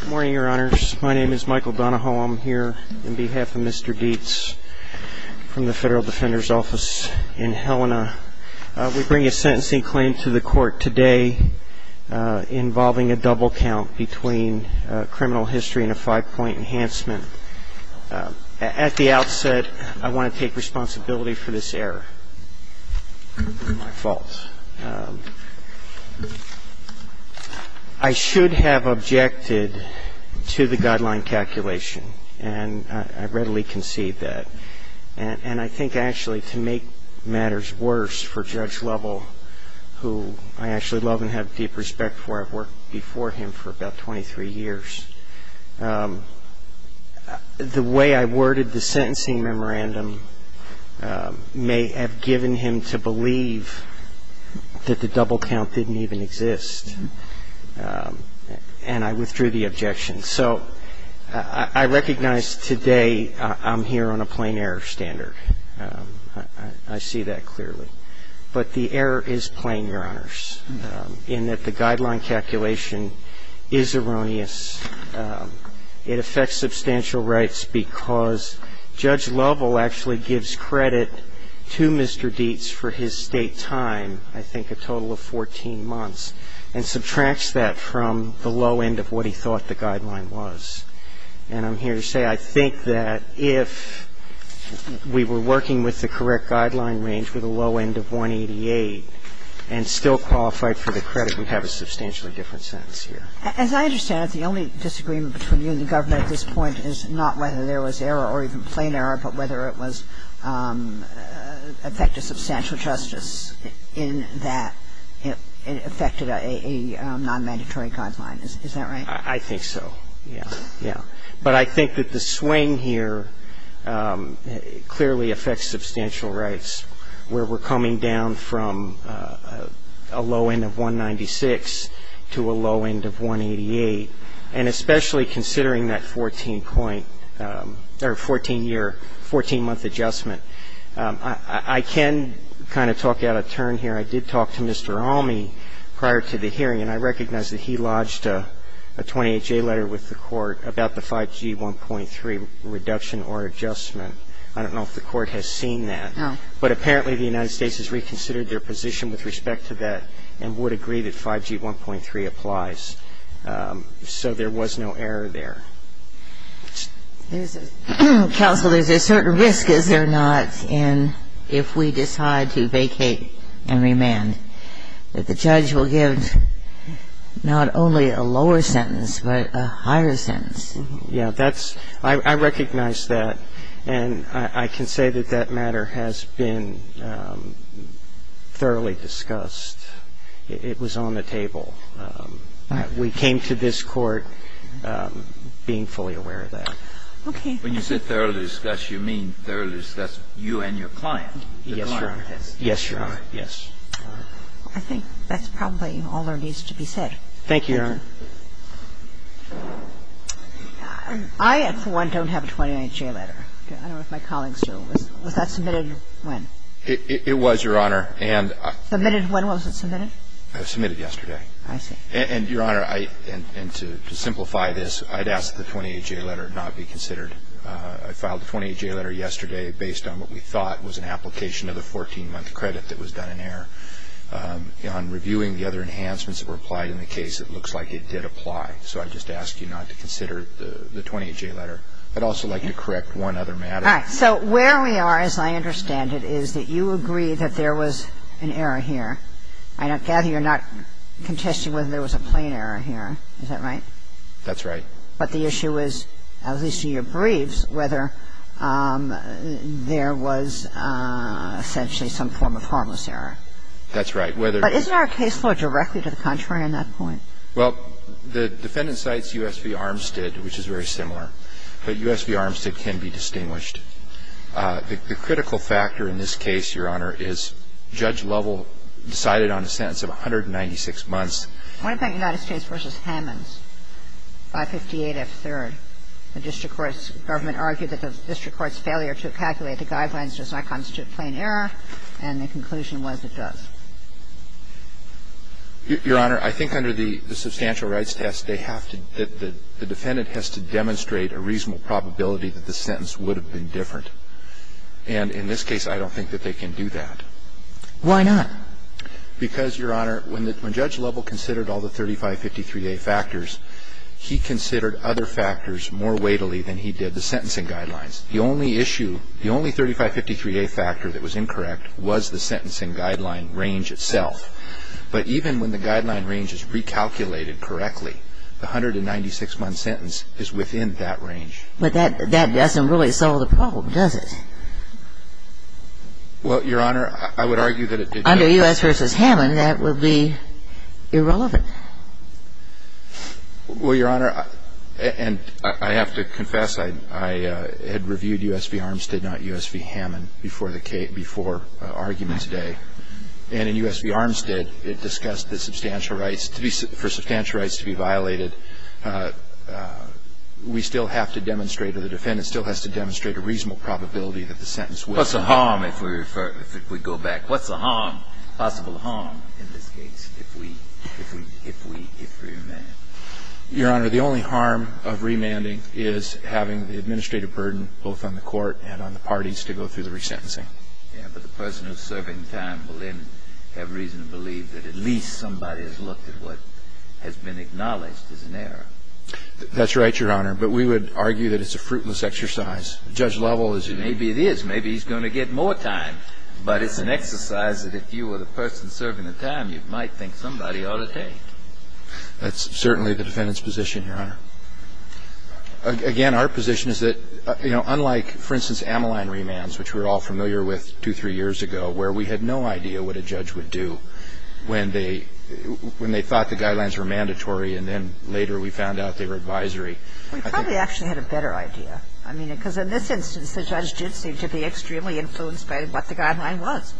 Good morning, your honors. My name is Michael Donahoe. I'm here on behalf of Mr. Dietz from the Federal Defender's Office in Helena. We bring a sentencing claim to the court today involving a double count between criminal history and a five-point enhancement. At the outset, I want to take responsibility for this error. My fault. I should have objected to the guideline calculation, and I readily concede that. And I think actually to make matters worse for Judge Lovell, who I actually love and have deep respect for. I've worked before him for about 23 years. The way I worded the sentencing memorandum may have given him to believe that the double count didn't even exist. And I withdrew the objection. So I recognize today I'm here on a plain error standard. I see that clearly. But the error is plain, your honors, in that the guideline calculation is erroneous. It affects substantial rights because Judge Lovell actually gives credit to Mr. Dietz for his State time, I think a total of 14 months, and subtracts that from the low end of what he thought the guideline was. And I'm here to say I think that if we were working with the correct guideline range with a low end of 188 and still qualified for the credit, we'd have a substantially different sentence here. As I understand it, the only disagreement between you and the government at this point is not whether there was error or even plain error, but whether it was effective substantial justice in that it affected a non-mandatory guideline. Is that right? I think so. Yeah. Yeah. But I think that the swing here clearly affects substantial rights, where we're coming down from a low end of 196 to a low end of 188, and especially considering that 14-year, 14-month adjustment. I can kind of talk out of turn here. I did talk to Mr. Alme prior to the hearing, and I recognize that he lodged a 28-J letter with the Court about the 5G 1.3 reduction or adjustment. I don't know if the Court has seen that. No. But apparently the United States has reconsidered their position with respect to that and would agree that 5G 1.3 applies. So there was no error there. Counsel, there's a certain risk, is there not, in if we decide to vacate and remove the 5G 1.3, that the judge will give not only a lower sentence but a higher sentence? Yeah. That's ‑‑ I recognize that, and I can say that that matter has been thoroughly discussed. It was on the table. We came to this Court being fully aware of that. Okay. When you said thoroughly discussed, you mean thoroughly discussed you and your client, the client? Yes, Your Honor. Yes. I think that's probably all there needs to be said. Thank you, Your Honor. I, for one, don't have a 28-J letter. I don't know if my colleagues do. Was that submitted when? It was, Your Honor. Submitted when? Was it submitted? It was submitted yesterday. I see. And, Your Honor, and to simplify this, I'd ask that the 28-J letter not be considered. I filed the 28-J letter yesterday based on what we thought was an application of the 14-month credit that was done in error. On reviewing the other enhancements that were applied in the case, it looks like it did apply. So I'd just ask you not to consider the 28-J letter. I'd also like to correct one other matter. All right. So where we are, as I understand it, is that you agree that there was an error here. I gather you're not contesting whether there was a plain error here. Is that right? That's right. But the issue is, at least in your briefs, whether there was essentially some form of harmless error. That's right. But isn't there a case law directly to the contrary on that point? Well, the defendant cites U.S. v. Armstead, which is very similar. But U.S. v. Armstead can be distinguished. The critical factor in this case, Your Honor, is Judge Lovell decided on a sentence of 196 months. I want to bring up United States v. Hammonds, 558F3rd. The district court's government argued that the district court's failure to calculate the guidelines does not constitute plain error, and the conclusion was it does. Your Honor, I think under the substantial rights test, they have to – that the defendant has to demonstrate a reasonable probability that the sentence would have been different. And in this case, I don't think that they can do that. Why not? Because, Your Honor, when Judge Lovell considered all the 3553A factors, he considered other factors more weightily than he did the sentencing guidelines. The only issue, the only 3553A factor that was incorrect was the sentencing guideline range itself. But even when the guideline range is recalculated correctly, the 196-month sentence is within that range. But that doesn't really solve the problem, does it? Well, Your Honor, I would argue that it did. Under U.S. v. Hammond, that would be irrelevant. Well, Your Honor, and I have to confess, I had reviewed U.S. v. Armstead, not U.S. v. Hammond, before argument today. And in U.S. v. Armstead, it discussed the substantial rights, for substantial rights to be violated. We still have to demonstrate, or the defendant still has to demonstrate a reasonable probability that the sentence would have been different. Well, Your Honor, if we go back, what's the harm, possible harm, in this case, if we remand? Your Honor, the only harm of remanding is having the administrative burden, both on the court and on the parties, to go through the resentencing. Yes, but the person who is serving time will then have reason to believe that at least somebody has looked at what has been acknowledged as an error. That's right, Your Honor. But we would argue that it's a fruitless exercise. Judge Lovell is an example. Maybe it is. Maybe he's going to get more time. But it's an exercise that if you were the person serving the time, you might think somebody ought to take. That's certainly the defendant's position, Your Honor. Again, our position is that, you know, unlike, for instance, Ameline remands, which we're all familiar with two, three years ago, where we had no idea what a judge would do when they thought the guidelines were mandatory, and then later we found out they were advisory. We probably actually had a better idea. I mean, because in this instance, the judge did seem to be extremely influenced by what the guideline was.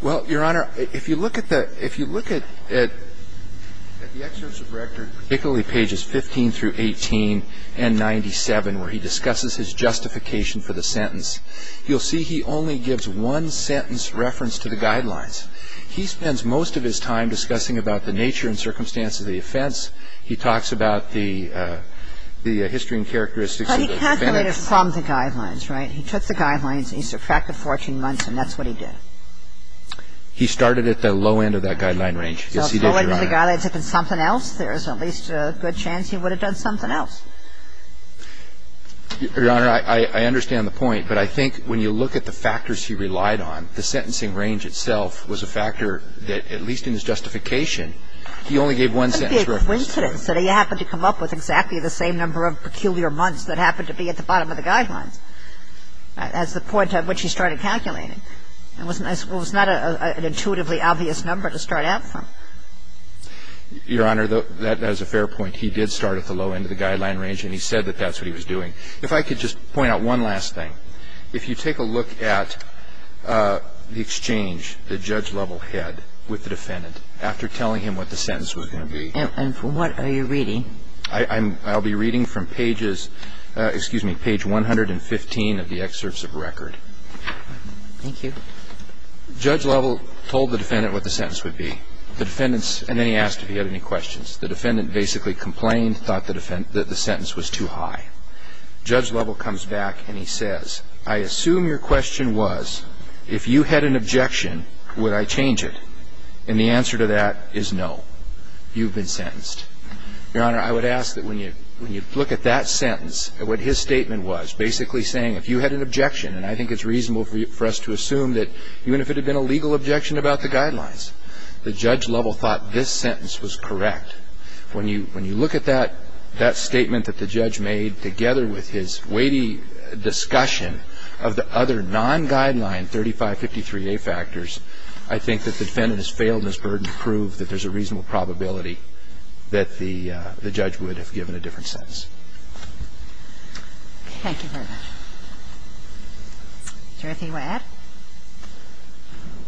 Well, Your Honor, if you look at the – if you look at the excerpts of Rector, particularly pages 15 through 18 and 97, where he discusses his justification for the sentence, you'll see he only gives one sentence reference to the guidelines. He spends most of his time discussing about the nature and circumstances of the offense. He talks about the history and characteristics of the defendant. But he calculated from the guidelines, right? He took the guidelines and he subtracted 14 months, and that's what he did. He started at the low end of that guideline range. Yes, he did, Your Honor. So if the guidelines had been something else, there's at least a good chance he would have done something else. Your Honor, I understand the point. But I think when you look at the factors he relied on, the sentencing range itself was a factor that, at least in his justification, he only gave one sentence reference to the guidelines. And that's a coincidence that he happened to come up with exactly the same number of peculiar months that happened to be at the bottom of the guidelines. That's the point at which he started calculating. It was not an intuitively obvious number to start out from. Your Honor, that is a fair point. He did start at the low end of the guideline range, and he said that that's what he was doing. If I could just point out one last thing. If you take a look at the exchange that Judge Lovell had with the defendant after telling him what the sentence was going to be. And from what are you reading? I'm going to be reading from pages, excuse me, page 115 of the excerpts of record. Thank you. Judge Lovell told the defendant what the sentence would be. The defendants, and then he asked if he had any questions. The defendant basically complained, thought that the sentence was too high. Judge Lovell comes back and he says, I assume your question was, if you had an objection, would I change it? And the answer to that is no. You've been sentenced. Your Honor, I would ask that when you look at that sentence, what his statement was, basically saying if you had an objection, and I think it's reasonable for us to assume that even if it had been a legal objection about the guidelines, the Judge Lovell thought this sentence was correct. When you look at that statement that the judge made together with his weighty discussion of the other non-guideline 3553A factors, I think that the defendant has failed in his burden to prove that there's a reasonable probability that the judge would have given a different sentence. Thank you very much. Jersey, you want to add?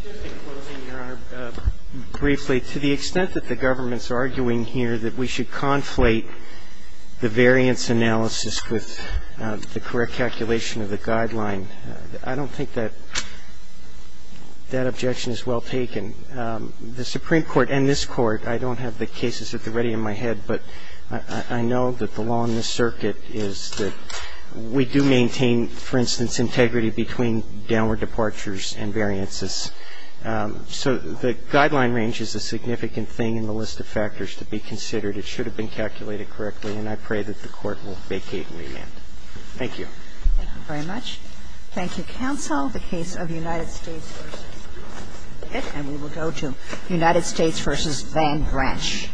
Just in closing, Your Honor, briefly, to the extent that the government is arguing here that we should conflate the variance analysis with the correct calculation of the guideline, I don't think that that objection is well taken. The Supreme Court and this Court, I don't have the cases at the ready in my head, but I know that the law in this circuit is that we do maintain, for instance, integrity between downward departures and variances. So the guideline range is a significant thing in the list of factors to be considered. It should have been calculated correctly, and I pray that the Court will vacate and remand. Thank you. Thank you very much. Thank you, counsel. The case of United States v. Van Branch.